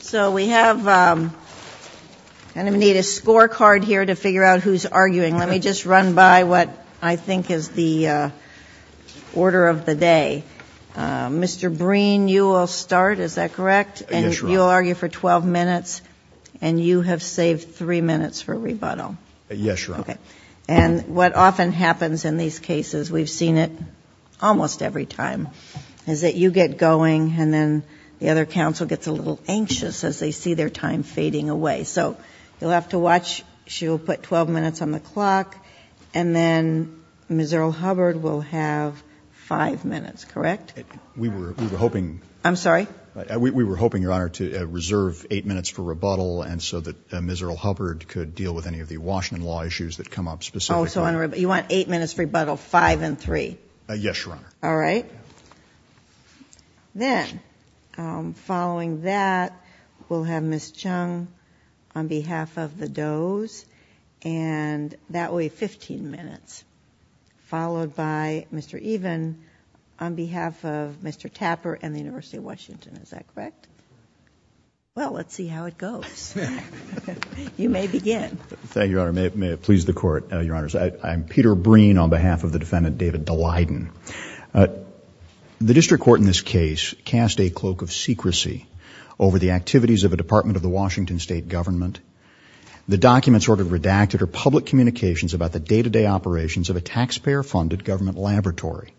So we have And I'm gonna need a scorecard here to figure out who's arguing. Let me just run by what I think is the order of the day Mr. Breen you will start is that correct? And you'll argue for 12 minutes and you have saved three minutes for rebuttal. Yes, you're okay And what often happens in these cases we've seen it And then the other counsel gets a little anxious as they see their time fading away So you'll have to watch she'll put 12 minutes on the clock and then Miserable Hubbard will have five minutes, correct? We were hoping I'm sorry We were hoping your honor to reserve eight minutes for rebuttal and so that Miserable Hubbard could deal with any of the Washington law issues that come up specifically You want eight minutes for rebuttal five and three? Yes, your honor. All right Then following that we'll have miss Chung on behalf of the Doe's and That way 15 minutes Followed by mr. Even on behalf of mr. Tapper and the University of Washington. Is that correct? Well, let's see how it goes You may begin. Thank you. May it please the court your honors. I'm Peter Breen on behalf of the defendant David Daleiden The district court in this case cast a cloak of secrecy over the activities of a department of the Washington state government The documents ordered redacted or public communications about the day-to-day operations of a taxpayer-funded government laboratory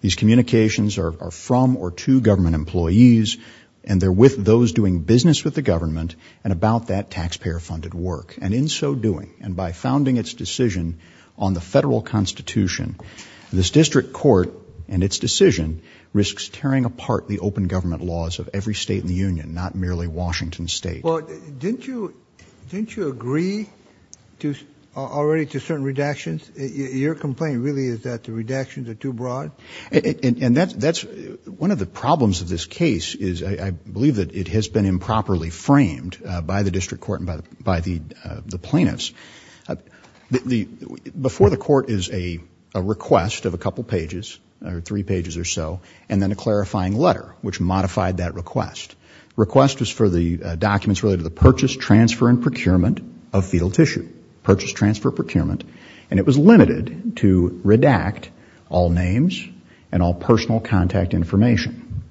These communications are from or to government employees and they're with those doing business with the government and about that taxpayer-funded work and in so doing and by founding its decision on the federal constitution This district court and its decision risks tearing apart the open government laws of every state in the Union Not merely Washington State. Well, didn't you didn't you agree? To already to certain redactions your complaint really is that the redactions are too broad And that's that's one of the problems of this case is I believe that it has been improperly framed by the district court and by the by the the plaintiffs The before the court is a Request of a couple pages or three pages or so and then a clarifying letter which modified that request Request was for the documents related to the purchase transfer and procurement of fetal tissue Purchase transfer procurement and it was limited to redact all names and all personal contact information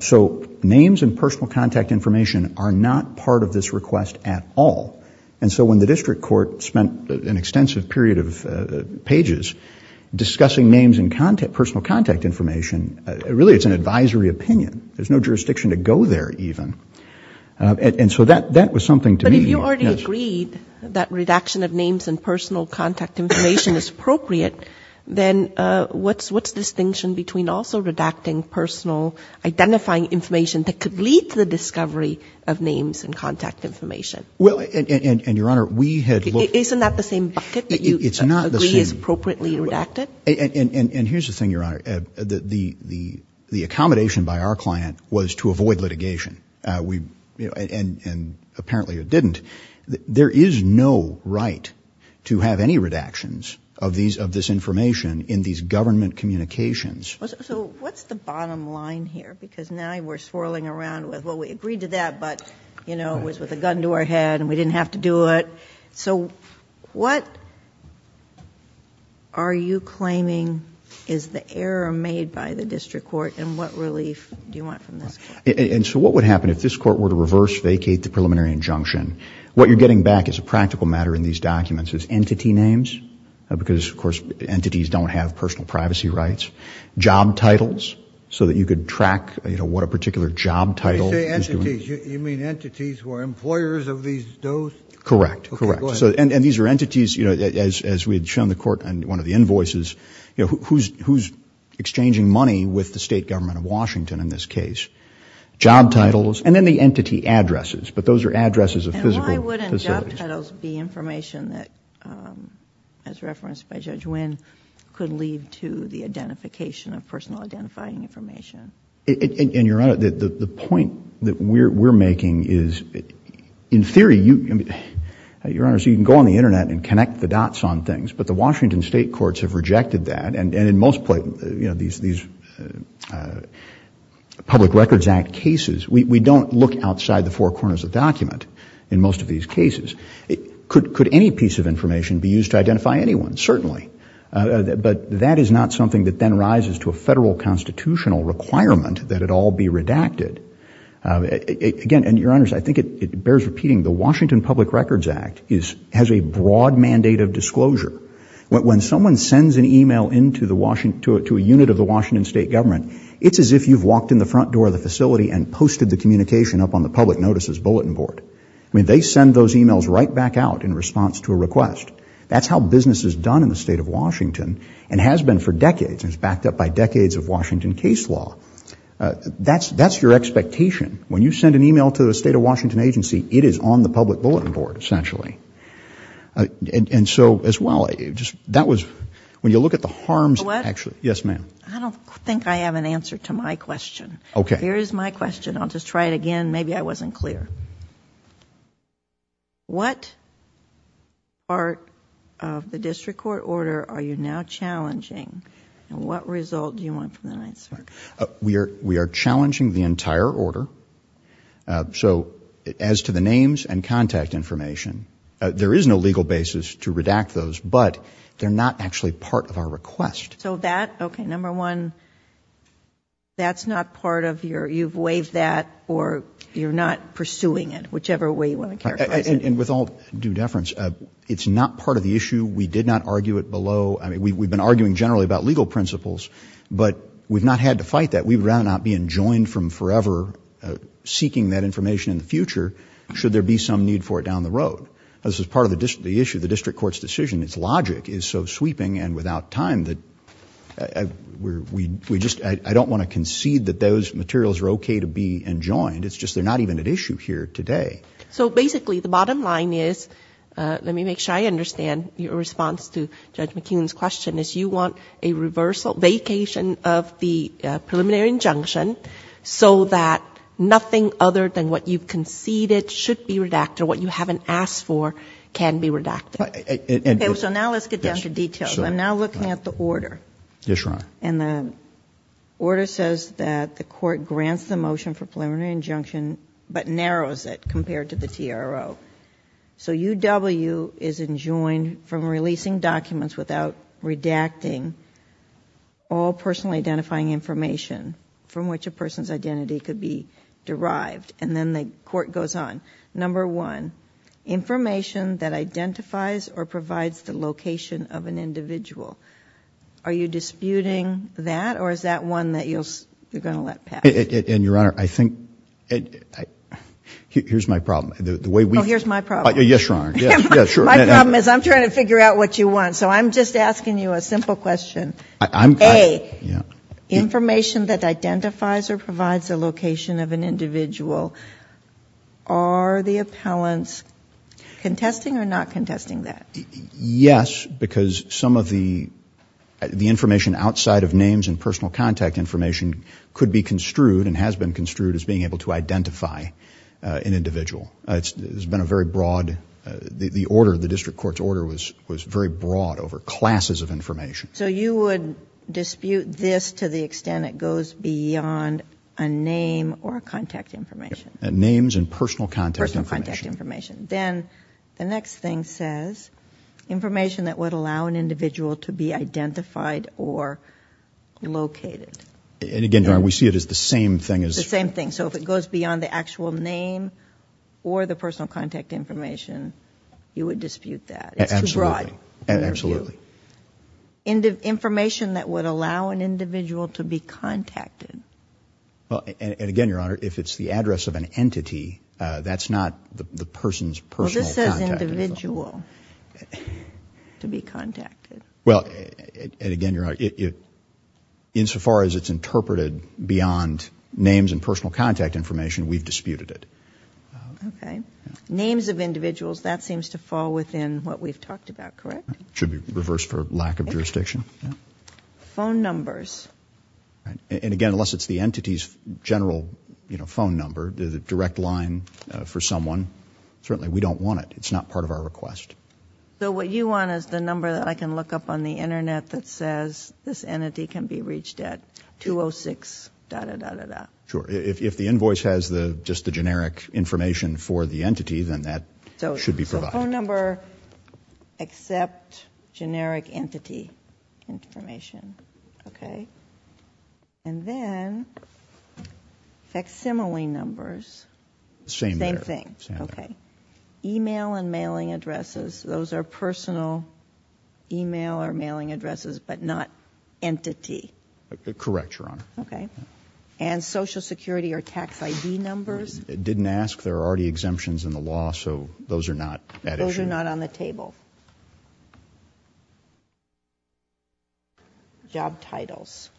So names and personal contact information are not part of this request at all And so when the district court spent an extensive period of pages Discussing names and content personal contact information. Really? It's an advisory opinion. There's no jurisdiction to go there even And so that that was something to me you already agreed that redaction of names and personal contact information is appropriate Then what's what's distinction between also redacting personal? Identifying information that could lead to the discovery of names and contact information Well, and and your honor we had isn't that the same it's not the same appropriately redacted And and and here's the thing your honor that the the the accommodation by our client was to avoid litigation We you know and and apparently it didn't there is no right to have any redactions of these of this information in these government communications Because now we're swirling around with what we agreed to that but you know It was with a gun to our head and we didn't have to do it. So what are You claiming is the error made by the district court and what relief do you want from this? And so what would happen if this court were to reverse vacate the preliminary injunction? What you're getting back is a practical matter in these documents as entity names Because of course entities don't have personal privacy rights Job titles so that you could track, you know, what a particular job title You mean entities who are employers of these those correct? Correct, so and these are entities, you know as we had shown the court and one of the invoices, you know, who's who's? Exchanging money with the state government of Washington in this case Job titles and then the entity addresses, but those are addresses of physical the information that As referenced by Judge Wynn could lead to the identification of personal identifying information in your honor that the point that we're making is in theory you Your honor so you can go on the internet and connect the dots on things but the Washington state courts have rejected that and and in most places, you know, these these Public Records Act cases we don't look outside the four corners of document in most of these cases Could could any piece of information be used to identify anyone certainly But that is not something that then rises to a federal constitutional requirement that it all be redacted Again, and your honors, I think it bears repeating the Washington Public Records Act is has a broad mandate of disclosure When someone sends an email into the Washington to a unit of the Washington state government It's as if you've walked in the front door of the facility and posted the communication up on the public notices bulletin board I mean they send those emails right back out in response to a request That's how business is done in the state of Washington and has been for decades and it's backed up by decades of Washington case law That's that's your expectation when you send an email to the state of Washington agency. It is on the public bulletin board essentially And and so as well it just that was when you look at the harms actually, yes, ma'am I don't think I have an answer to my question. Okay, here is my question. I'll just try it again. Maybe I wasn't clear What Part of the district court order. Are you now challenging and what result do you want from the night? We are we are challenging the entire order So as to the names and contact information There is no legal basis to redact those but they're not actually part of our request. So that okay number one That's not part of your you've waived that or you're not pursuing it Whichever way you want to care and with all due deference, it's not part of the issue. We did not argue it below I mean, we've been arguing generally about legal principles, but we've not had to fight that we've run out being joined from forever Seeking that information in the future. Should there be some need for it down the road? this is part of the district the issue the district courts decision its logic is so sweeping and without time that We we just I don't want to concede that those materials are okay to be enjoined It's just they're not even an issue here today. So basically the bottom line is let me make sure I understand your response to judge McKeon's question is you want a reversal vacation of the preliminary injunction So that nothing other than what you've conceded should be redacted what you haven't asked for can be redacted So now let's get down to details. I'm now looking at the order yes, right and the Order says that the court grants the motion for preliminary injunction, but narrows it compared to the TRO So UW is enjoined from releasing documents without redacting all personally identifying information From which a person's identity could be derived and then the court goes on number one Information that identifies or provides the location of an individual Are you disputing that or is that one that you'll you're gonna let it in your honor? I think Here's my problem the way we know here's my problem. Yes, your honor Yeah, sure. My problem is I'm trying to figure out what you want. So I'm just asking you a simple question. I'm a Information that identifies or provides a location of an individual Are the appellants? Contesting or not contesting that yes, because some of the The information outside of names and personal contact information could be construed and has been construed as being able to identify An individual it's been a very broad The order the district courts order was was very broad over classes of information So you would dispute this to the extent it goes beyond a name or contact information Names and personal contact information then the next thing says information that would allow an individual to be identified or Located and again here we see it as the same thing as the same thing So if it goes beyond the actual name or the personal contact information You would dispute that. It's right. Absolutely Into information that would allow an individual to be contacted Well, and again your honor if it's the address of an entity that's not the person's personal individual To be contacted. Well, and again, you're right it Insofar as it's interpreted beyond names and personal contact information. We've disputed it Okay, names of individuals that seems to fall within what we've talked about. Correct should be reversed for lack of jurisdiction phone numbers And again, unless it's the entity's general, you know phone number the direct line for someone certainly we don't want it It's not part of our request So what you want is the number that I can look up on the internet that says this entity can be reached at 206 Sure, if the invoice has the just the generic information for the entity then that should be provided number except generic entity Information, okay, and then Facsimile numbers same thing. Okay email and mailing addresses. Those are personal Email or mailing addresses, but not Entity the correct your honor. Okay, and Social security or tax ID numbers. It didn't ask there are already exemptions in the law. So those are not those are not on the table Job titles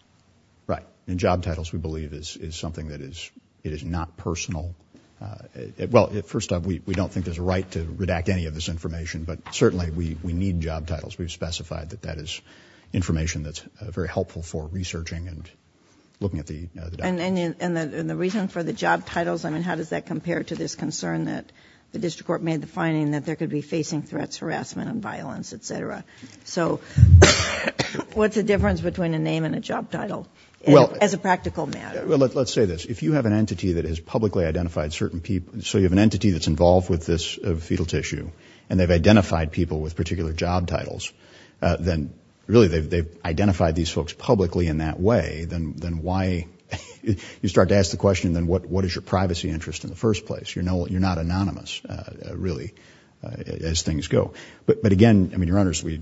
right and job titles we believe is is something that is it is not personal Well it first time we don't think there's a right to redact any of this information, but certainly we we need job titles we've specified that that is information that's very helpful for researching and Looking at the and the reason for the job titles I mean How does that compare to this concern that the district court made the finding that there could be facing threats harassment and violence, etc so What's the difference between a name and a job title well as a practical matter Well, let's say this if you have an entity that has publicly identified certain people So you have an entity that's involved with this fetal tissue and they've identified people with particular job titles Then really they've identified these folks publicly in that way then then why? You start to ask the question then what what is your privacy interest in the first place? You know, you're not anonymous Really as things go, but but again, I mean you're honest we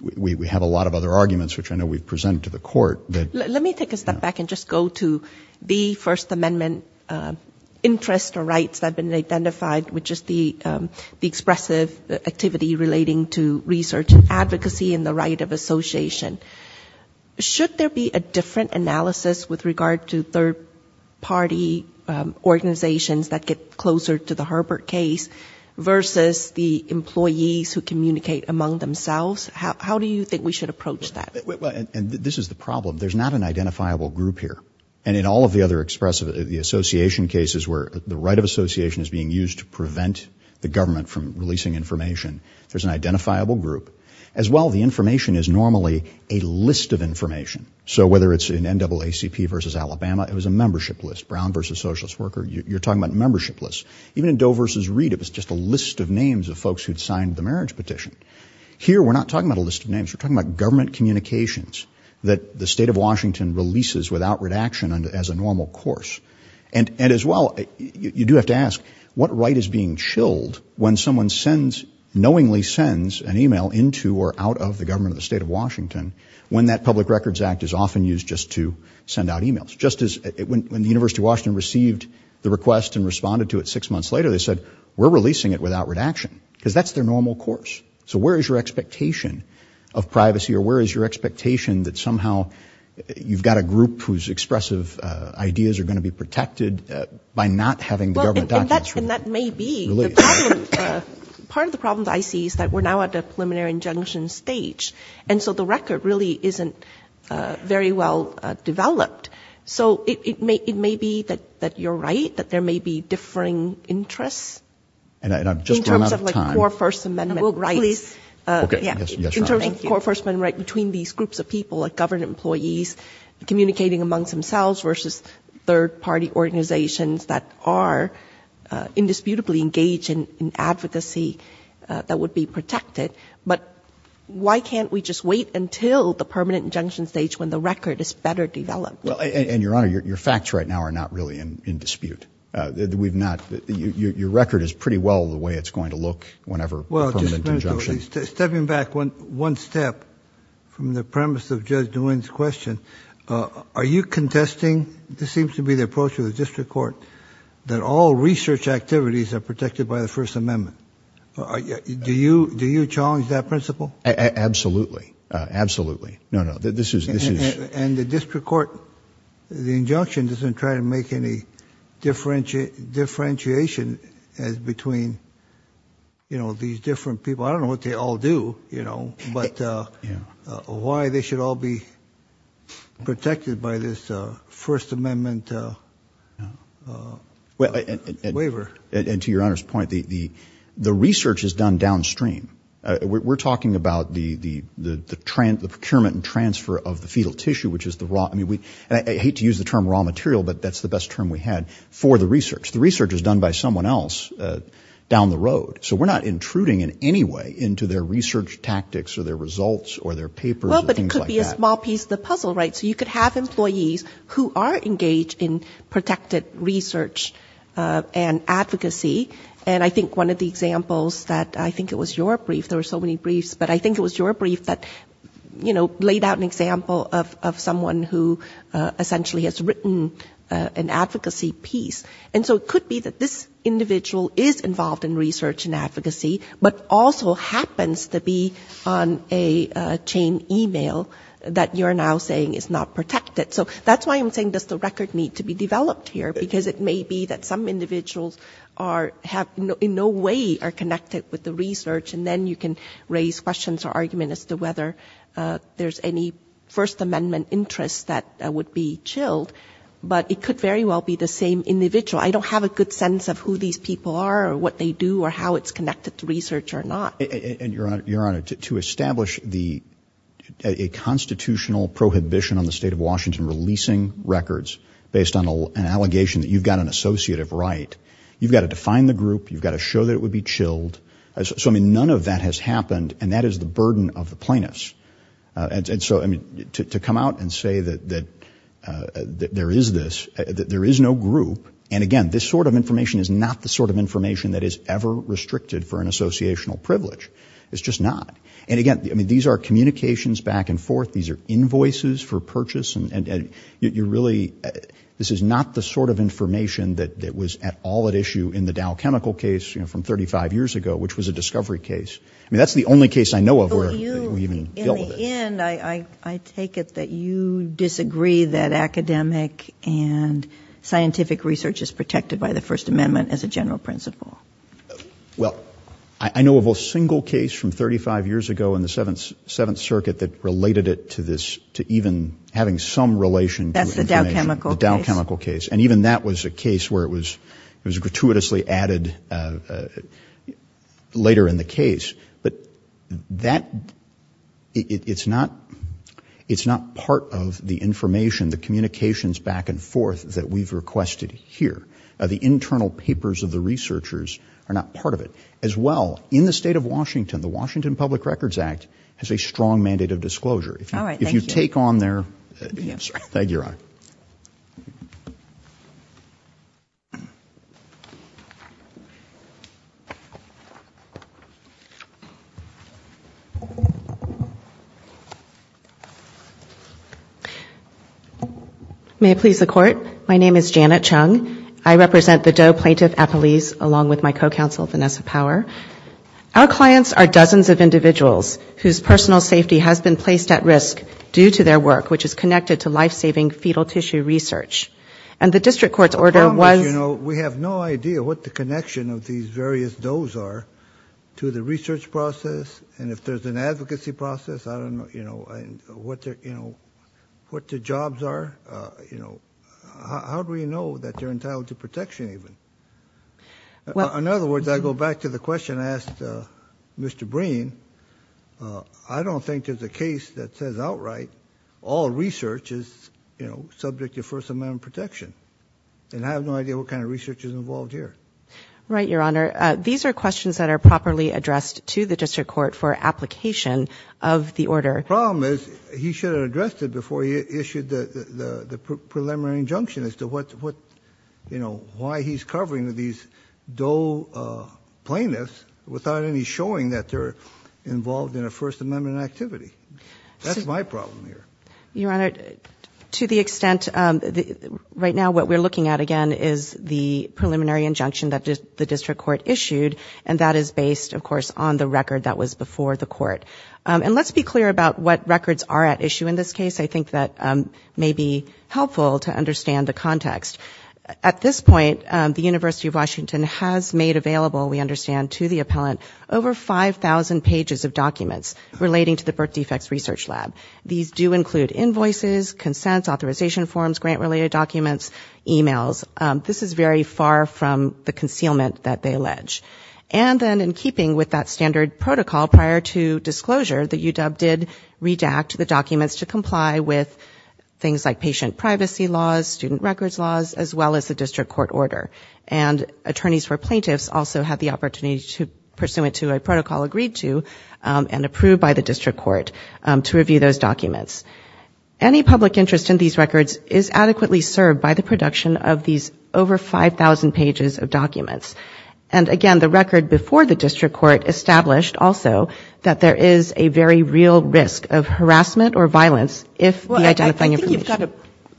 We have a lot of other arguments, which I know we've presented to the court But let me take a step back and just go to the First Amendment interest or rights that have been identified with just the expressive activity relating to research and advocacy in the right of association Should there be a different analysis with regard to third party? organizations that get closer to the Herbert case Versus the employees who communicate among themselves. How do you think we should approach that and this is the problem? There's not an identifiable group here and in all of the other expressive the Association cases where the right of association is being used to prevent the government from releasing information There's an identifiable group as well. The information is normally a list of information So whether it's in NAACP versus Alabama, it was a membership list Brown versus socialist worker You're talking about membership lists even in Doe versus read It was just a list of names of folks who'd signed the marriage petition here. We're not talking about a list of names We're talking about government communications that the state of Washington releases without redaction and as a normal course and and as well You do have to ask what right is being chilled when someone sends knowingly sends an email into or out of the government of the state of Washington When that Public Records Act is often used just to send out emails just as it went when the University of Washington received The request and responded to it six months later. They said we're releasing it without redaction because that's their normal course So, where is your expectation of privacy or where is your expectation that somehow? You've got a group whose expressive ideas are going to be protected by not having the government Part of the problems I see is that we're now at the preliminary injunction stage. And so the record really isn't Very well developed. So it may it may be that that you're right that there may be differing interests And I've just run out of time. In terms of like core First Amendment rights In terms of core First Amendment rights between these groups of people like government employees communicating amongst themselves versus third-party organizations that are indisputably engaged in advocacy That would be protected But Why can't we just wait until the permanent injunction stage when the record is better developed and your honor your facts right now are? Not really in in dispute We've not your record is pretty well the way it's going to look whenever well Stepping back one one step from the premise of judge doings question Are you contesting this seems to be the approach of the district court that all research activities are protected by the First Amendment? Do you do you challenge that principle? Absolutely, absolutely. No. No, this is this is and the district court the injunction doesn't try to make any differentiate differentiation as between You know these different people. I don't know what they all do, you know, but yeah why they should all be protected by this First Amendment Well waiver and to your honor's point the Research is done downstream We're talking about the the the trend the procurement and transfer of the fetal tissue, which is the raw I mean we hate to use the term raw material But that's the best term we had for the research the research is done by someone else Down the road, so we're not intruding in any way into their research tactics or their results or their papers Small piece of the puzzle, right so you could have employees who are engaged in protected research and Advocacy and I think one of the examples that I think it was your brief there were so many briefs, but I think it was your brief that you know laid out an example of someone who Essentially has written an advocacy piece and so it could be that this individual is involved in research and advocacy, but also happens to be on a Chain email that you're now saying is not protected So that's why I'm saying does the record need to be developed here because it may be that some individuals are Have no way are connected with the research and then you can raise questions or argument as to whether There's any First Amendment interest that would be chilled, but it could very well be the same individual I don't have a good sense of who these people are or what they do or how it's connected to research or not and your honor to establish the Constitutional prohibition on the state of Washington releasing records based on an allegation that you've got an associative, right? You've got to define the group. You've got to show that it would be chilled So I mean none of that has happened and that is the burden of the plaintiffs and so I mean to come out and say that that There is this there is no group and again This sort of information is not the sort of information that is ever restricted for an associational privilege It's just not and again. I mean these are communications back and forth these are invoices for purchase and You're really this is not the sort of information that that was at all at issue in the Dow chemical case You know from 35 years ago, which was a discovery case. I mean, that's the only case I know of where I take it that you disagree that academic and Scientific research is protected by the First Amendment as a general principle Well, I know of a single case from 35 years ago in the 7th 7th circuit that related it to this to even having some Relation that's the Dow chemical chemical case and even that was a case where it was it was a gratuitously added Later in the case, but that It's not It's not part of the information the communications back and forth that we've requested Here are the internal papers of the researchers are not part of it as well in the state of Washington The Washington Public Records Act has a strong mandate of disclosure if you take on there Thank you I May please the court. My name is Janet Chung. I represent the Doe plaintiff a police along with my co-counsel Vanessa power Our clients are dozens of individuals whose personal safety has been placed at risk due to their work Which is connected to life-saving fetal tissue research and the district courts order was you know? We have no idea what the connection of these various does are To the research process and if there's an advocacy process, I don't know, you know, and what they're you know What the jobs are, you know, how do we know that they're entitled to protection even? Well, in other words, I go back to the question asked Mr. Breen, I don't think there's a case that says outright all research is, you know Subject to first amendment protection and I have no idea what kind of research is involved here, right? These are questions that are properly addressed to the district court for application of the order problem is he should have addressed it before he issued the Preliminary injunction as to what what you know why he's covering with these Doe Plaintiffs without any showing that they're involved in a First Amendment activity. That's my problem here your honor to the extent Right now what we're looking at again is the Preliminary injunction that the district court issued and that is based of course on the record that was before the court And let's be clear about what records are at issue in this case I think that may be helpful to understand the context at this point The University of Washington has made available We understand to the appellant over 5,000 pages of documents relating to the birth defects research lab These do include invoices consents authorization forms grant related documents emails this is very far from the concealment that they allege and then in keeping with that standard protocol prior to disclosure that UW did redact the documents to comply with things like patient privacy laws student records laws as well as the district court order and Attorneys for plaintiffs also had the opportunity to pursue it to a protocol agreed to And approved by the district court to review those documents any public interest in these records is adequately served by the production of these over 5,000 pages of documents and again the record before the district court established also that there is a very real risk of harassment or violence if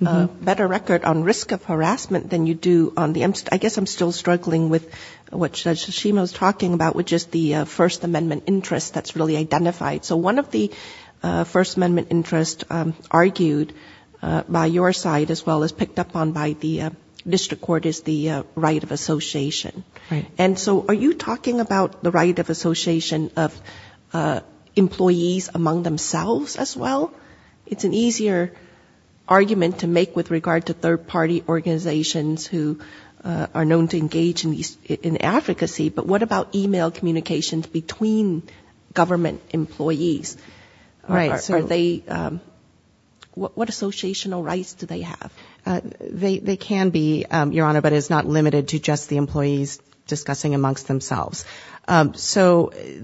Better record on risk of harassment than you do on the MC. I guess I'm still struggling with What she was talking about with just the First Amendment interest that's really identified. So one of the First Amendment interest argued by your side as well as picked up on by the District Court is the right of association. And so are you talking about the right of association of? Employees among themselves as well. It's an easier argument to make with regard to third party organizations who Are known to engage in these in advocacy, but what about email communications between government employees? right, so they What associational rights do they have? They can be your honor, but it's not limited to just the employees discussing amongst themselves so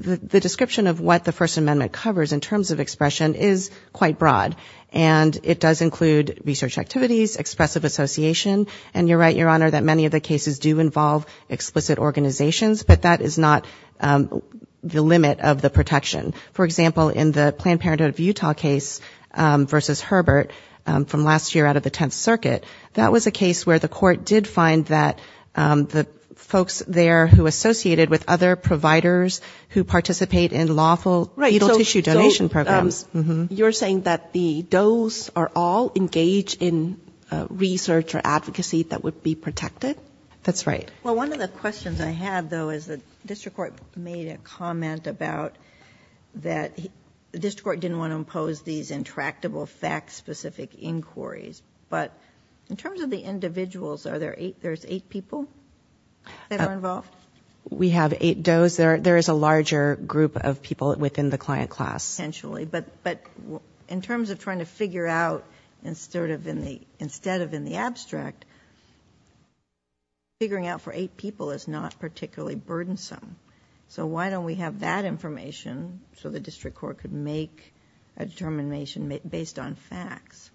the description of what the First Amendment covers in terms of expression is quite broad and It does include research activities expressive association and you're right your honor that many of the cases do involve explicit organizations But that is not The limit of the protection for example in the Planned Parenthood of Utah case Versus Herbert from last year out of the Tenth Circuit. That was a case where the court did find that The folks there who associated with other providers who participate in lawful right? Programs you're saying that the does are all engaged in Research or advocacy that would be protected. That's right. Well, one of the questions I have though is the district court made a comment about That the district court didn't want to impose these intractable facts specific inquiries But in terms of the individuals are there eight there's eight people Involved we have eight does there there is a larger group of people within the client class Potentially, but but in terms of trying to figure out and sort of in the instead of in the abstract Figuring out for eight people is not particularly burdensome So why don't we have that information so the district court could make a determination based on facts?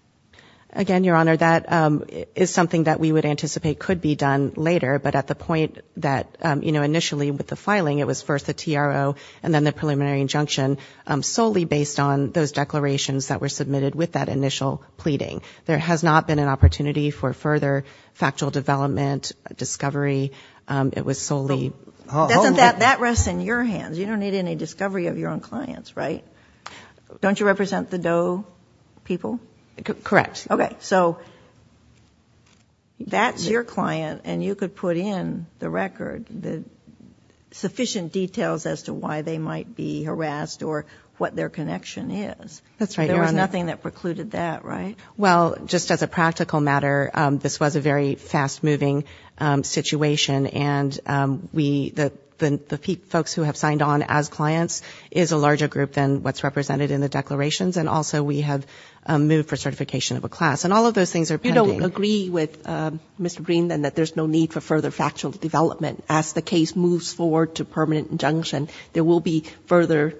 Again your honor that is something that we would anticipate could be done later But at the point that you know initially with the filing it was first the TRO and then the preliminary injunction Solely based on those declarations that were submitted with that initial pleading there has not been an opportunity for further factual development Discovery it was solely That rests in your hands. You don't need any discovery of your own clients, right? Don't you represent the dough? People correct. Okay, so That's your client and you could put in the record the Sufficient details as to why they might be harassed or what their connection is. That's right There was nothing that precluded that right? Well just as a practical matter. This was a very fast-moving situation and We the the people folks who have signed on as clients is a larger group than what's represented in the declarations And also we have moved for certification of a class and all of those things are you don't agree with? Mr. Green then that there's no need for further factual development as the case moves forward to permanent injunction. There will be further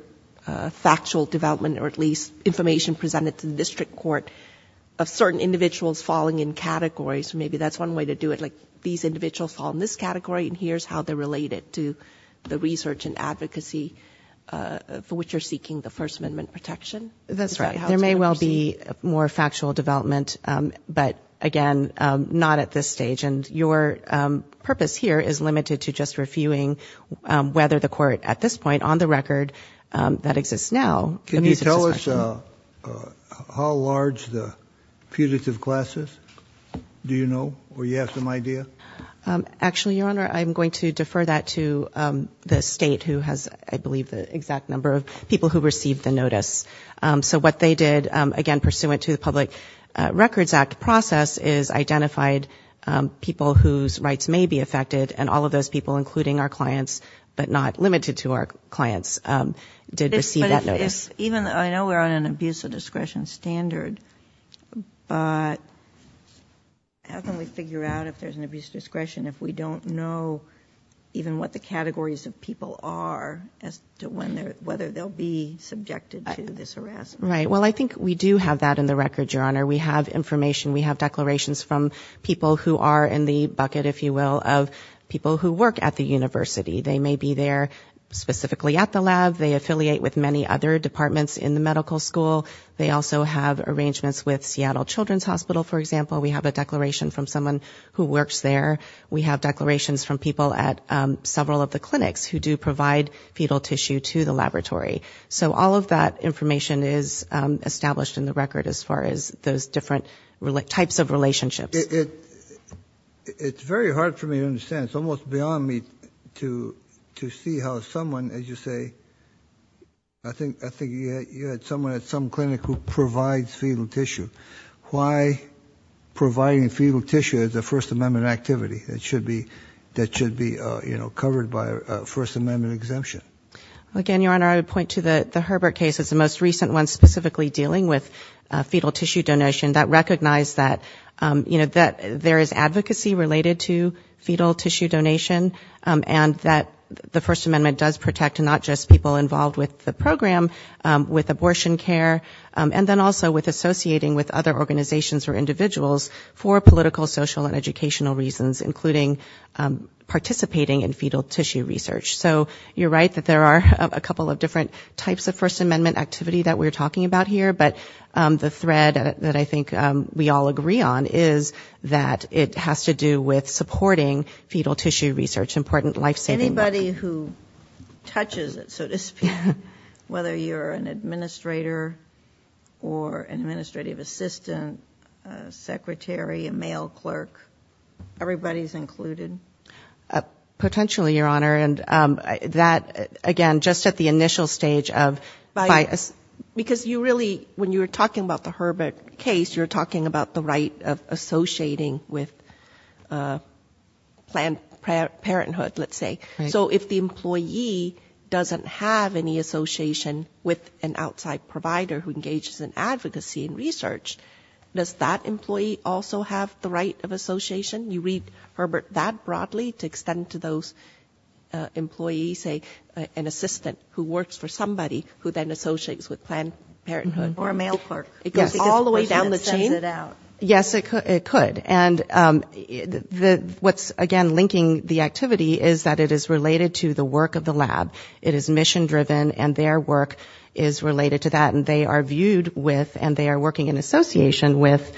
Factual development or at least information presented to the district court of certain individuals falling in categories Maybe that's one way to do it like these individuals fall in this category and here's how they're related to the research and advocacy For which you're seeking the First Amendment protection, that's right there may well be more factual development, but again not at this stage and your Purpose here is limited to just reviewing Whether the court at this point on the record that exists now, can you tell us? How large the punitive classes do you know or you have some idea? Actually, your honor I'm going to defer that to The state who has I believe the exact number of people who received the notice So what they did again pursuant to the Public Records Act process is identified People whose rights may be affected and all of those people including our clients, but not limited to our clients Did receive that notice even though I know we're on an abuse of discretion standard but How can we figure out if there's an abuse of discretion if we don't know Even what the categories of people are as to when they're whether they'll be subjected to this harassment, right? Well, I think we do have that in the record your honor. We have information We have declarations from people who are in the bucket if you will of people who work at the University, they may be there Specifically at the lab they affiliate with many other departments in the medical school They also have arrangements with Seattle Children's Hospital. For example, we have a declaration from someone who works there We have declarations from people at several of the clinics who do provide fetal tissue to the laboratory so all of that information is Established in the record as far as those different types of relationships It's very hard for me to understand. It's almost beyond me to to see how someone as you say, I Provide fetal tissue why Providing fetal tissue is the First Amendment activity that should be that should be, you know covered by First Amendment exemption Again, your honor. I would point to the the Herbert case. It's the most recent one specifically dealing with fetal tissue donation that recognized that You know that there is advocacy related to fetal tissue donation And that the First Amendment does protect and not just people involved with the program with abortion care and then also with associating with other organizations or individuals for political social and educational reasons including Participating in fetal tissue research So you're right that there are a couple of different types of First Amendment activity that we're talking about here but the thread that I think we all agree on is that it has to do with supporting fetal tissue research important life-saving anybody who touches it so to speak whether you're an administrator or an administrative assistant secretary a male clerk everybody's included a potentially your honor and that again just at the initial stage of by us because you really when you were talking about the Herbert case you're talking about the right of associating with Planned Parenthood, let's say so if the employee Doesn't have any association with an outside provider who engages in advocacy and research Does that employee also have the right of association you read Herbert that broadly to extend to those? Employees a an assistant who works for somebody who then associates with Planned Parenthood or a male clerk It goes all the way down the chain it out. Yes, it could and The what's again linking the activity is that it is related to the work of the lab It is mission driven and their work is related to that and they are viewed with and they are working in association with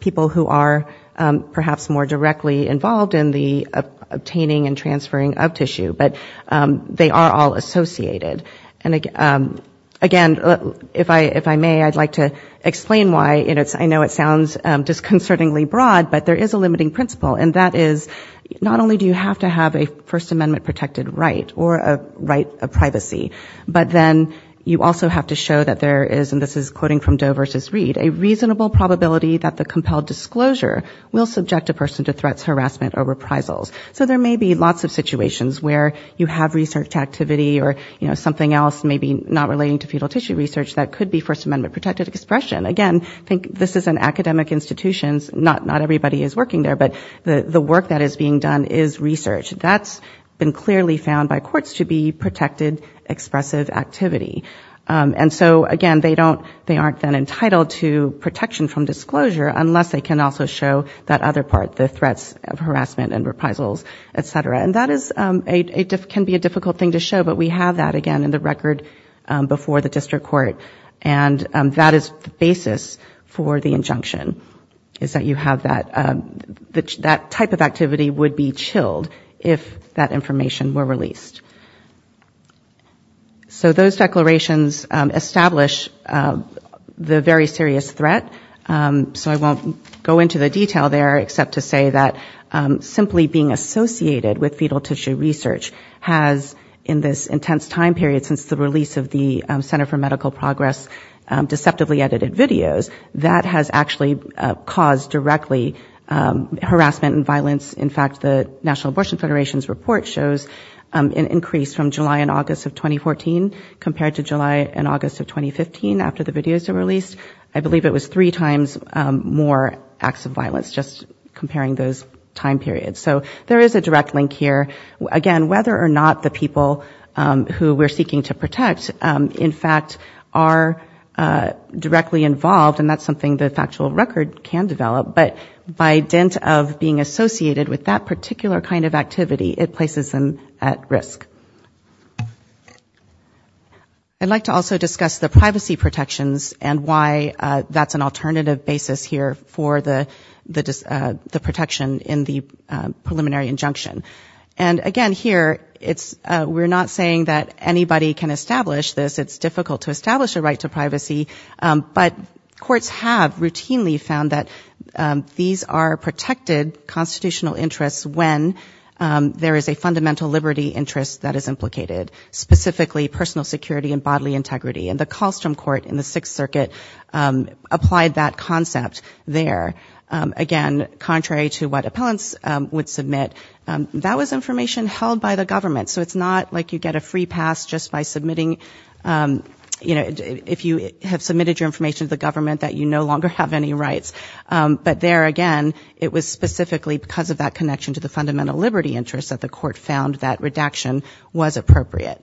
people who are perhaps more directly involved in the obtaining and transferring of tissue, but they are all associated and Again, if I if I may I'd like to explain why it's I know it sounds Disconcertingly broad, but there is a limiting principle and that is not only do you have to have a First Amendment protected right or a right a Privacy, but then you also have to show that there is and this is quoting from Doe versus read a reasonable probability that the compelled Disclosure will subject a person to threats harassment or reprisals So there may be lots of situations where you have research activity or you know Something else may be not relating to fetal tissue research. That could be First Amendment protected expression again I think this is an academic institutions Not not everybody is working there, but the the work that is being done is research That's been clearly found by courts to be protected expressive activity And so again, they don't they aren't then entitled to protection from disclosure Unless they can also show that other part the threats of harassment and reprisals, etc And that is a it can be a difficult thing to show but we have that again in the record before the district court and That is the basis for the injunction. Is that you have that? That that type of activity would be chilled if that information were released So those declarations establish the very serious threat So I won't go into the detail there except to say that Simply being associated with fetal tissue research has in this intense time period since the release of the Center for Medical Progress Deceptively edited videos that has actually caused directly Harassment and violence. In fact, the National Abortion Federation's report shows an increase from July and August of 2014 Compared to July and August of 2015 after the videos are released. I believe it was three times more acts of violence Just comparing those time periods. So there is a direct link here again, whether or not the people Who we're seeking to protect in fact are Directly involved and that's something the factual record can develop But by dint of being associated with that particular kind of activity it places them at risk I'd like to also discuss the privacy protections and why that's an alternative basis here for the the protection in the Anybody can establish this it's difficult to establish a right to privacy but courts have routinely found that These are protected constitutional interests when? There is a fundamental liberty interest that is implicated Specifically personal security and bodily integrity and the Colstrom Court in the Sixth Circuit Applied that concept there Again contrary to what appellants would submit that was information held by the government So it's not like you get a free pass just by submitting You know if you have submitted your information to the government that you no longer have any rights But there again, it was specifically because of that connection to the fundamental liberty interest that the court found that redaction was appropriate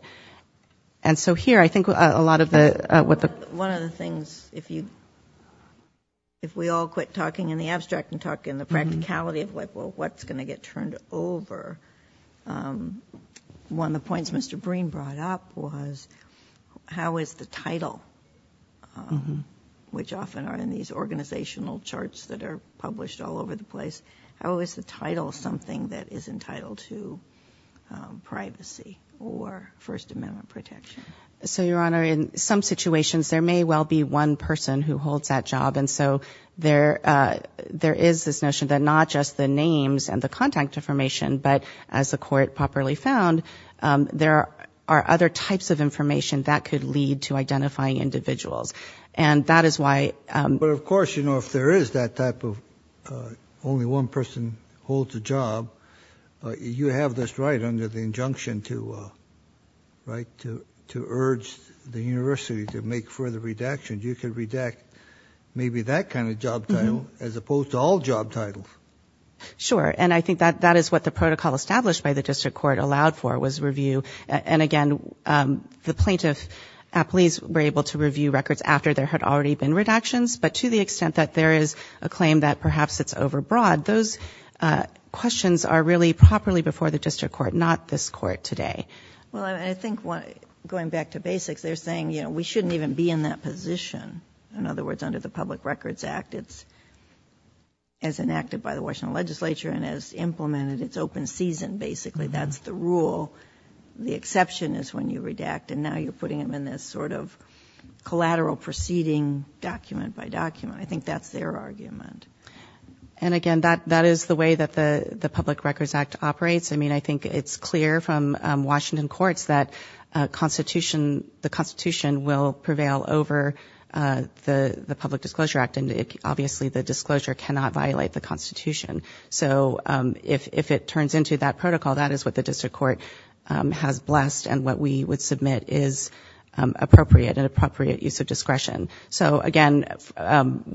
and so here I think a lot of the what the one of the things if you If we all quit talking in the abstract and talk in the practicality of what well what's going to get turned over? One of the points mr. Breen brought up was how is the title? Which often are in these organizational charts that are published all over the place how is the title something that is entitled to Privacy or First Amendment protection so your honor in some situations there may well be one person who holds that job and so there There is this notion that not just the names and the contact information But as the court properly found There are other types of information that could lead to identifying individuals and that is why but of course You know if there is that type of Only one person holds a job you have this right under the injunction to Right to to urge the university to make further redactions you can redact Maybe that kind of job title as opposed to all job titles Sure and I think that that is what the protocol established by the district court allowed for was review and again the plaintiff Please were able to review records after there had already been redactions But to the extent that there is a claim that perhaps it's overbroad those Questions are really properly before the district court not this court today Well, I think what going back to basics they're saying you know we shouldn't even be in that position in other words under the Public Records Act it's as Enacted by the Washington legislature and as implemented. It's open season. Basically, that's the rule the exception is when you redact and now you're putting them in this sort of Collateral proceeding document by document. I think that's their argument And again that that is the way that the the Public Records Act operates. I mean, I think it's clear from Washington courts that Constitution the Constitution will prevail over The the Public Disclosure Act and obviously the disclosure cannot violate the Constitution So if if it turns into that protocol, that is what the district court has blessed and what we would submit is appropriate and appropriate use of discretion, so again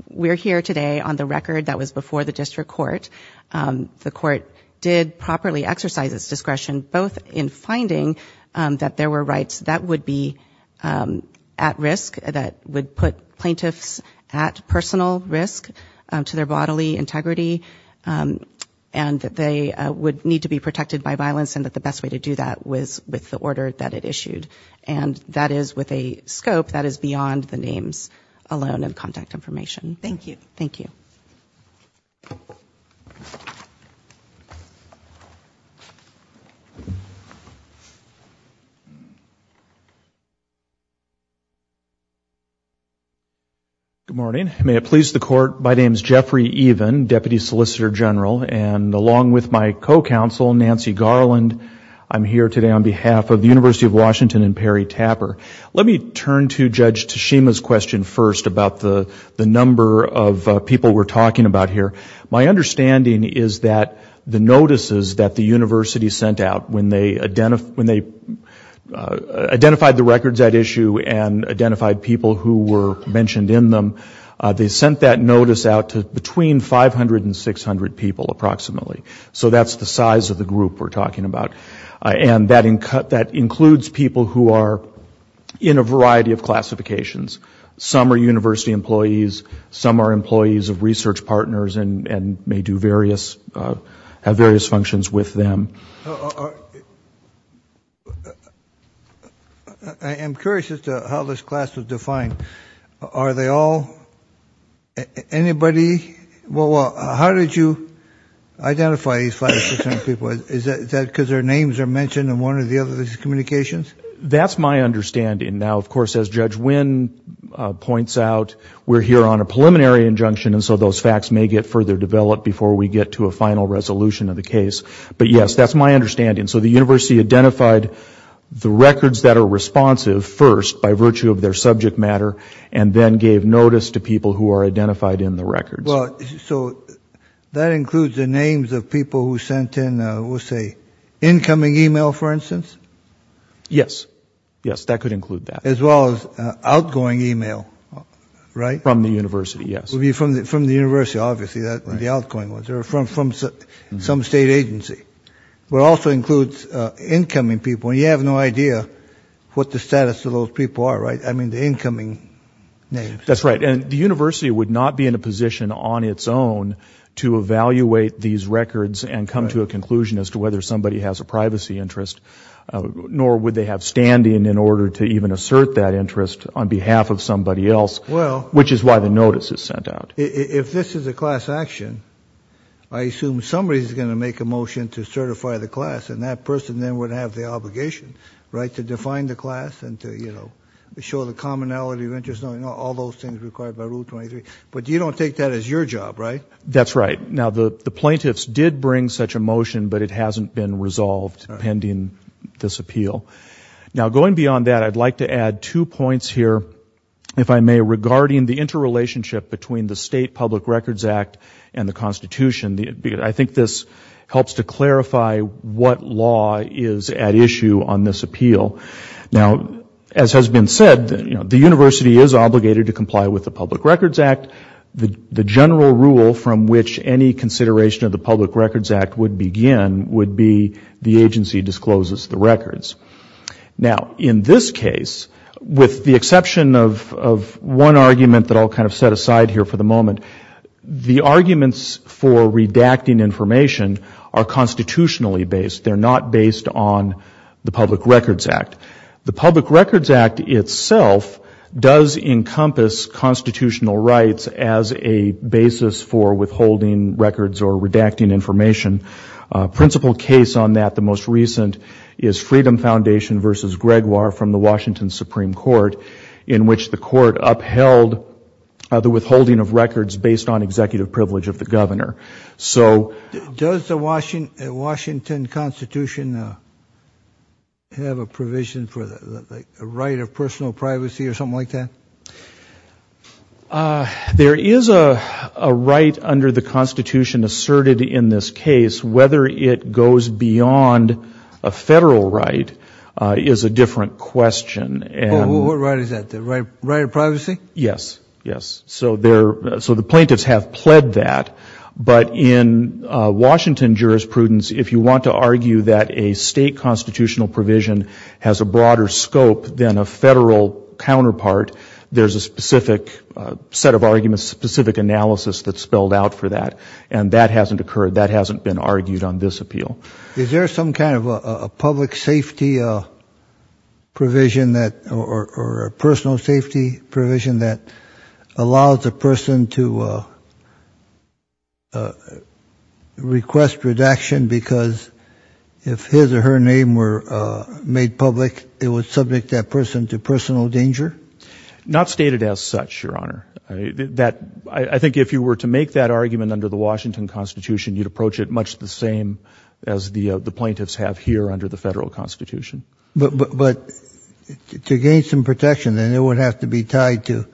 We're here today on the record that was before the district court The court did properly exercise its discretion both in finding that there were rights that would be At risk that would put plaintiffs at personal risk to their bodily integrity and that they would need to be protected by violence and that the best way to do that was with the order that it issued and That is with a scope that is beyond the names alone and contact information. Thank you. Thank you You Good morning, may it please the court My name is Jeffrey even deputy solicitor general and along with my co-counsel Nancy Garland I'm here today on behalf of the University of Washington and Perry Tapper Let me turn to judge Tashima's question first about the the number of people we're talking about here my understanding is that the notices that the university sent out when they identify when they Identified the records that issue and identified people who were mentioned in them They sent that notice out to between five hundred and six hundred people approximately So that's the size of the group we're talking about and that in cut that includes people who are in a variety of Classifications some are university employees some are employees of research partners and and may do various Have various functions with them I'm curious as to how this class was defined. Are they all? Anybody well, how did you Identify these five percent people is that because their names are mentioned and one of the other communications? That's my understanding now, of course as judge Wynn Points out we're here on a preliminary injunction And so those facts may get further developed before we get to a final resolution of the case But yes, that's my understanding. So the university identified The records that are responsive first by virtue of their subject matter and then gave notice to people who are identified in the records well, so That includes the names of people who sent in we'll say incoming email for instance Yes. Yes that could include that as well as outgoing email Right from the university. Yes will be from the from the university Obviously that the outgoing was there from from some state agency, but also includes Incoming people you have no idea what the status of those people are right? I mean the incoming Name, that's right And the university would not be in a position on its own To evaluate these records and come to a conclusion as to whether somebody has a privacy interest Nor would they have standing in order to even assert that interest on behalf of somebody else? Which is why the notice is sent out if this is a class action I Assume somebody's gonna make a motion to certify the class and that person then would have the obligation Right to define the class and to you know, we show the commonality of interest No, you know all those things required by rule 23, but you don't take that as your job, right? That's right. Now the the plaintiffs did bring such a motion, but it hasn't been resolved pending this appeal Now going beyond that I'd like to add two points here if I may regarding the interrelationship between the state Public Records Act and the Constitution the I think this Helps to clarify what law is at issue on this appeal now as has been said You know the university is obligated to comply with the Public Records Act the the general rule from which any Consideration of the Public Records Act would begin would be the agency discloses the records Now in this case with the exception of one argument that I'll kind of set aside here for the moment the arguments for redacting information are Constitutionally based they're not based on the Public Records Act the Public Records Act itself Does encompass constitutional rights as a basis for withholding records or redacting information? Principal case on that the most recent is Freedom Foundation versus Gregoire from the Washington Supreme Court in Which the court upheld? The withholding of records based on executive privilege of the governor. So does the Washington Washington Constitution? Have a provision for the right of personal privacy or something like that There is a Right under the Constitution asserted in this case whether it goes beyond a federal right Is a different question and what right is that the right right of privacy? Yes. Yes so there so the plaintiffs have pled that but in Washington jurisprudence if you want to argue that a state constitutional provision has a broader scope than a federal Counterpart there's a specific Set of arguments specific analysis that spelled out for that and that hasn't occurred that hasn't been argued on this appeal Is there some kind of a public safety? Provision that or a personal safety provision that allows a person to Request redaction because if his or her name were Made public it was subject that person to personal danger Not stated as such your honor that I think if you were to make that argument under the Washington Constitution You'd approach it much the same as the the plaintiffs have here under the federal Constitution, but but To gain some protection then it would have to be tied to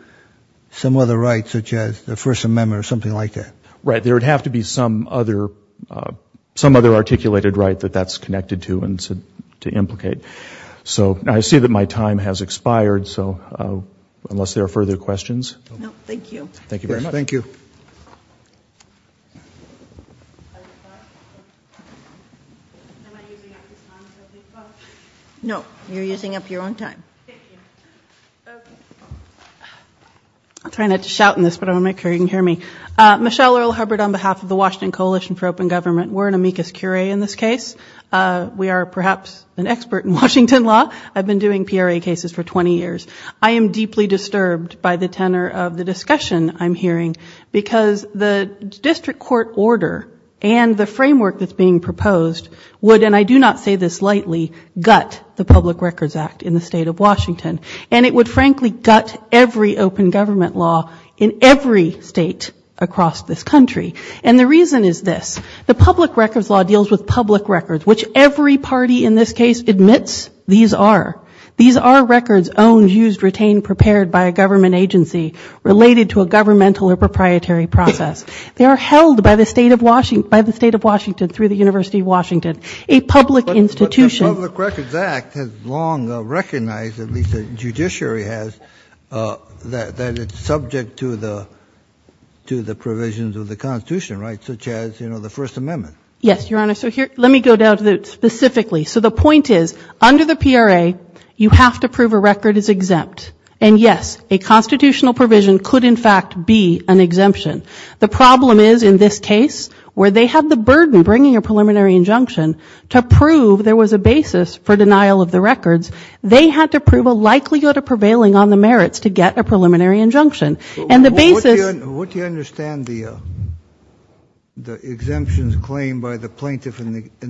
Some other rights such as the First Amendment or something like that, right? There would have to be some other Some other articulated right that that's connected to and said to implicate so I see that my time has expired so Unless there are further questions. Thank you. Thank you very much. Thank you No, you're using up your own time I'm trying not to shout in this but I'm a make her you can hear me Michelle Earl Hubbard on behalf of the Washington Coalition for Open Government. We're an amicus curiae in this case We are perhaps an expert in Washington law. I've been doing PRA cases for 20 years I am deeply disturbed by the tenor of the discussion I'm hearing because the district court order and the framework that's being proposed Would and I do not say this lightly gut the Public Records Act in the state of Washington And it would frankly gut every open government law in every state Across this country and the reason is this the public records law deals with public records which every party in this case admits These are these are records owned used retained prepared by a government agency Related to a governmental or proprietary process they are held by the state of Washington by the state of Washington through the University of Washington a Judiciary has that it's subject to the To the provisions of the Constitution right such as you know, the First Amendment. Yes, your honor So here let me go down to the specifically so the point is under the PRA you have to prove a record is exempt and yes a Constitutional provision could in fact be an exemption The problem is in this case where they have the burden bringing a preliminary injunction To prove there was a basis for denial of the records they had to prove a likelihood of prevailing on the merits to get a preliminary injunction and the basis would you understand the The exemptions claimed by the plaintiff in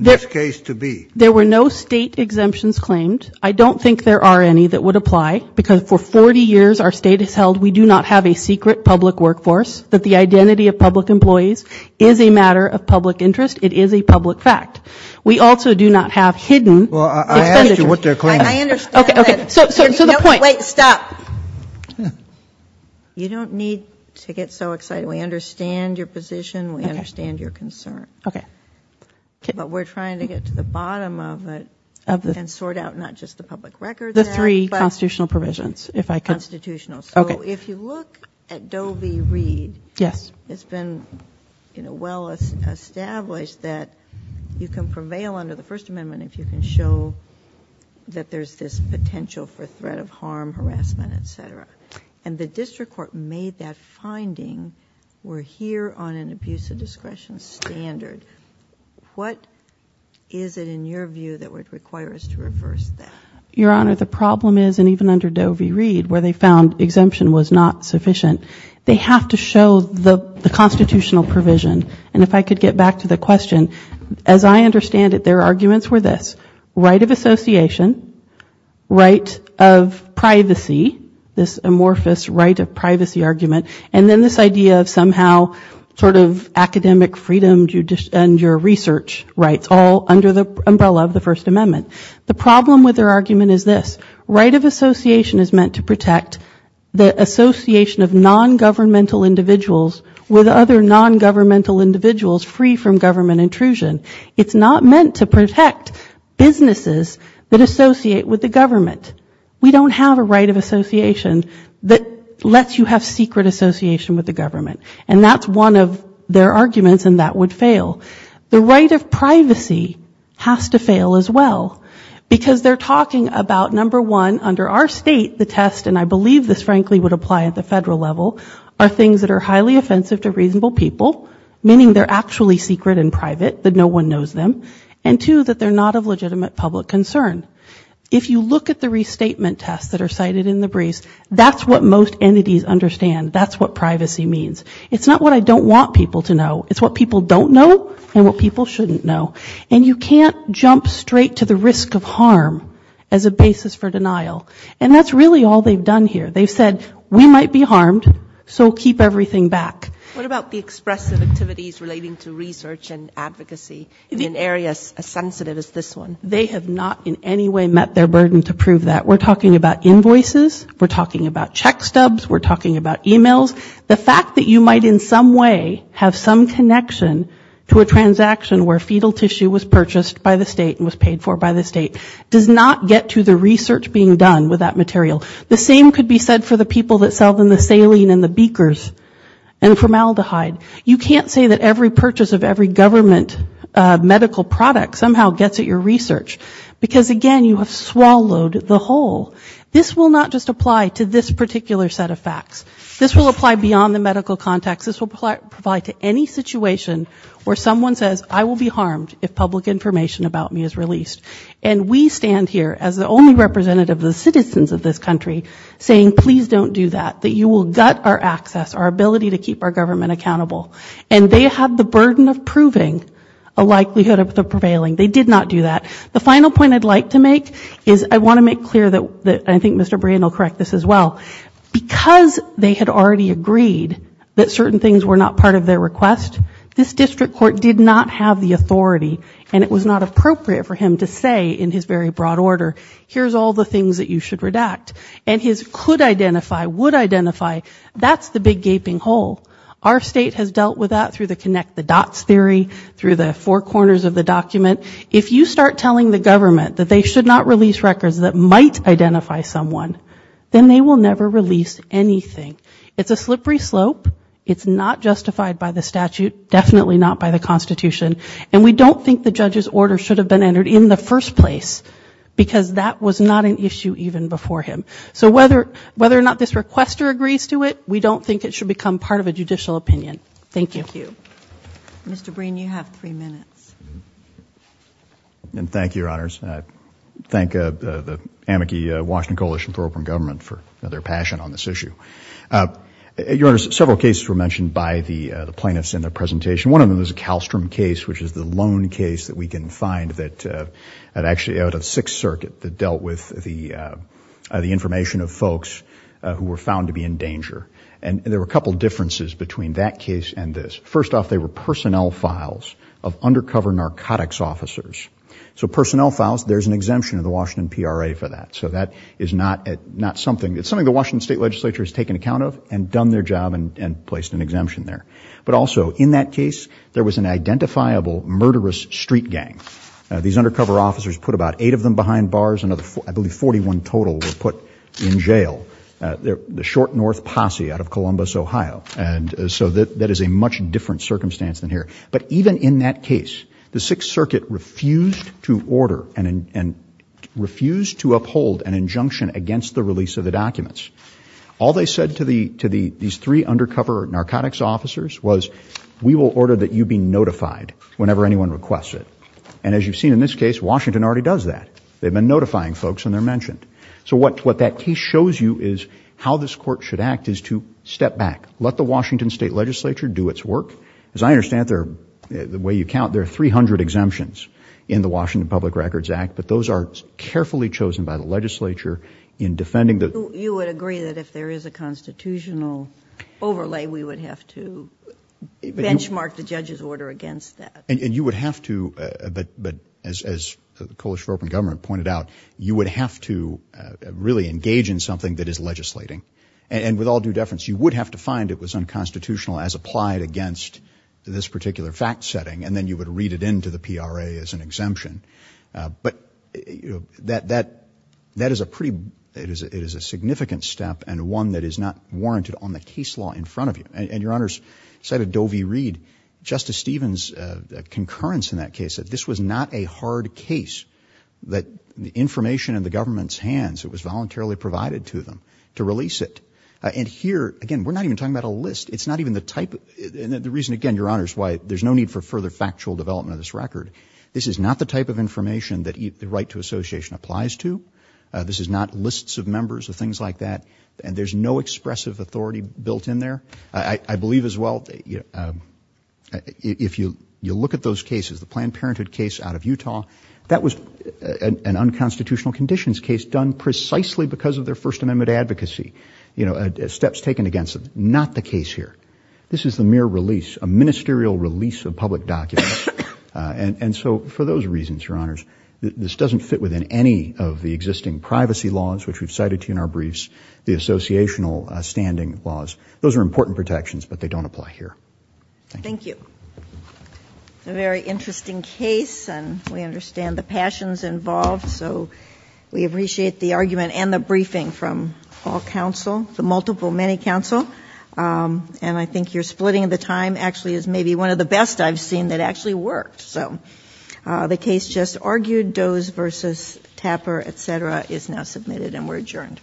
this case to be there were no state exemptions claimed I don't think there are any that would apply because for 40 years our state has held We do not have a secret public workforce that the identity of public employees is a matter of public interest It is a public fact. We also do not have hidden Wait stop You don't need to get so excited we understand your position we understand your concern, okay But we're trying to get to the bottom of it of the and sort out not just the public record the three constitutional provisions If I constitutional, so if you look at Doe v. Reed, yes, it's been You know well Established that you can prevail under the First Amendment if you can show That there's this potential for threat of harm harassment, etc And the district court made that finding we're here on an abuse of discretion standard What is it in your view that would require us to reverse that your honor? The problem is and even under Doe v. Reed where they found exemption was not sufficient They have to show the Constitutional provision and if I could get back to the question as I understand it their arguments were this right of association right of Privacy this amorphous right of privacy argument, and then this idea of somehow Sort of academic freedom judicial and your research rights all under the umbrella of the First Amendment the problem with their argument is this right of association is meant to protect the Association of non-governmental individuals with other non-governmental individuals free from government intrusion It's not meant to protect Businesses that associate with the government We don't have a right of association that lets you have secret association with the government And that's one of their arguments and that would fail the right of privacy Has to fail as well Because they're talking about number one under our state the test and I believe this frankly would apply at the federal level Are things that are highly offensive to reasonable people? Meaning they're actually secret and private that no one knows them and to that They're not of legitimate public concern. If you look at the restatement tests that are cited in the briefs That's what most entities understand. That's what privacy means. It's not what I don't want people to know It's what people don't know and what people shouldn't know and you can't jump straight to the risk of harm as a Basis for denial and that's really all they've done here. They've said we might be harmed. So keep everything back What about the expressive activities relating to research and advocacy in areas as sensitive as this one? They have not in any way met their burden to prove that we're talking about invoices. We're talking about check stubs We're talking about emails the fact that you might in some way have some connection to a Transaction where fetal tissue was purchased by the state and was paid for by the state does not get to the research being done with that material the same could be said for the people that sell them the saline and the beakers and Formaldehyde, you can't say that every purchase of every government Medical product somehow gets at your research because again you have swallowed the whole This will not just apply to this particular set of facts. This will apply beyond the medical context this will apply to any situation where someone says I will be harmed if public information about me is released and We stand here as the only representative of the citizens of this country saying please don't do that that you will gut our access our ability to keep our government accountable and they have the burden of proving a Likelihood of the prevailing they did not do that The final point I'd like to make is I want to make clear that that I think mr. Brain will correct this as well Because they had already agreed that certain things were not part of their request This district court did not have the authority and it was not appropriate for him to say in his very broad order Here's all the things that you should redact and his could identify would identify That's the big gaping hole our state has dealt with that through the connect the dots theory through the four corners of the Document if you start telling the government that they should not release records that might identify someone then they will never release anything It's a slippery slope It's not justified by the statute definitely not by the Constitution and we don't think the judge's order should have been entered in the first place Because that was not an issue even before him So whether whether or not this requester agrees to it, we don't think it should become part of a judicial opinion. Thank you. Thank you Mr. Breen you have three minutes And thank you your honors, I thank the amici Washington Coalition for open government for their passion on this issue Your honors several cases were mentioned by the the plaintiffs in their presentation one of them was a Kallstrom case, which is the loan case that we can find that actually out of Sixth Circuit that dealt with the the information of folks Who were found to be in danger and there were a couple differences between that case and this first off They were personnel files of undercover narcotics officers. So personnel files. There's an exemption of the Washington PRA for that So that is not at not something It's something the Washington State Legislature has taken account of and done their job and placed an exemption there But also in that case there was an identifiable murderous street gang These undercover officers put about eight of them behind bars and other four I believe 41 total were put in jail there the short north posse out of Columbus, Ohio and so that that is a much different circumstance than here, but even in that case the Sixth Circuit refused to order and refused to uphold an injunction against the release of the documents all they said to the to the these three undercover narcotics officers was We will order that you be notified whenever anyone requests it and as you've seen in this case, Washington already does that They've been notifying folks and they're mentioned So what what that case shows you is how this court should act is to step back Let the Washington State Legislature do its work as I understand there the way you count There are 300 exemptions in the Washington Public Records Act But those are carefully chosen by the legislature in defending that you would agree that if there is a constitutional overlay, we would have to Benchmark the judge's order against that and you would have to but but as the coalition for open government pointed out you would have to Really engage in something that is legislating and with all due deference you would have to find it was unconstitutional as applied against This particular fact setting and then you would read it into the PRA as an exemption but that that That is a pretty it is it is a significant step and one that is not Warranted on the case law in front of you and your honors said a Dovey read Justice Stevens the concurrence in that case that this was not a hard case That the information in the government's hands it was voluntarily provided to them to release it and here again We're not even talking about a list It's not even the type and the reason again your honors why there's no need for further factual development of this record This is not the type of information that eat the right to association applies to This is not lists of members of things like that and there's no expressive authority built in there. I believe as well If you you look at those cases the Planned Parenthood case out of Utah that was An unconstitutional conditions case done precisely because of their First Amendment advocacy, you know steps taken against them not the case here This is the mere release a ministerial release of public documents And and so for those reasons your honors this doesn't fit within any of the existing privacy laws Which we've cited to you in our briefs the associational standing laws. Those are important protections, but they don't apply here Thank you It's a very interesting case and we understand the passions involved So we appreciate the argument and the briefing from all counsel the multiple many counsel And I think you're splitting the time actually is maybe one of the best I've seen that actually worked. So The case just argued does versus Tapper, etc is now submitted and we're adjourned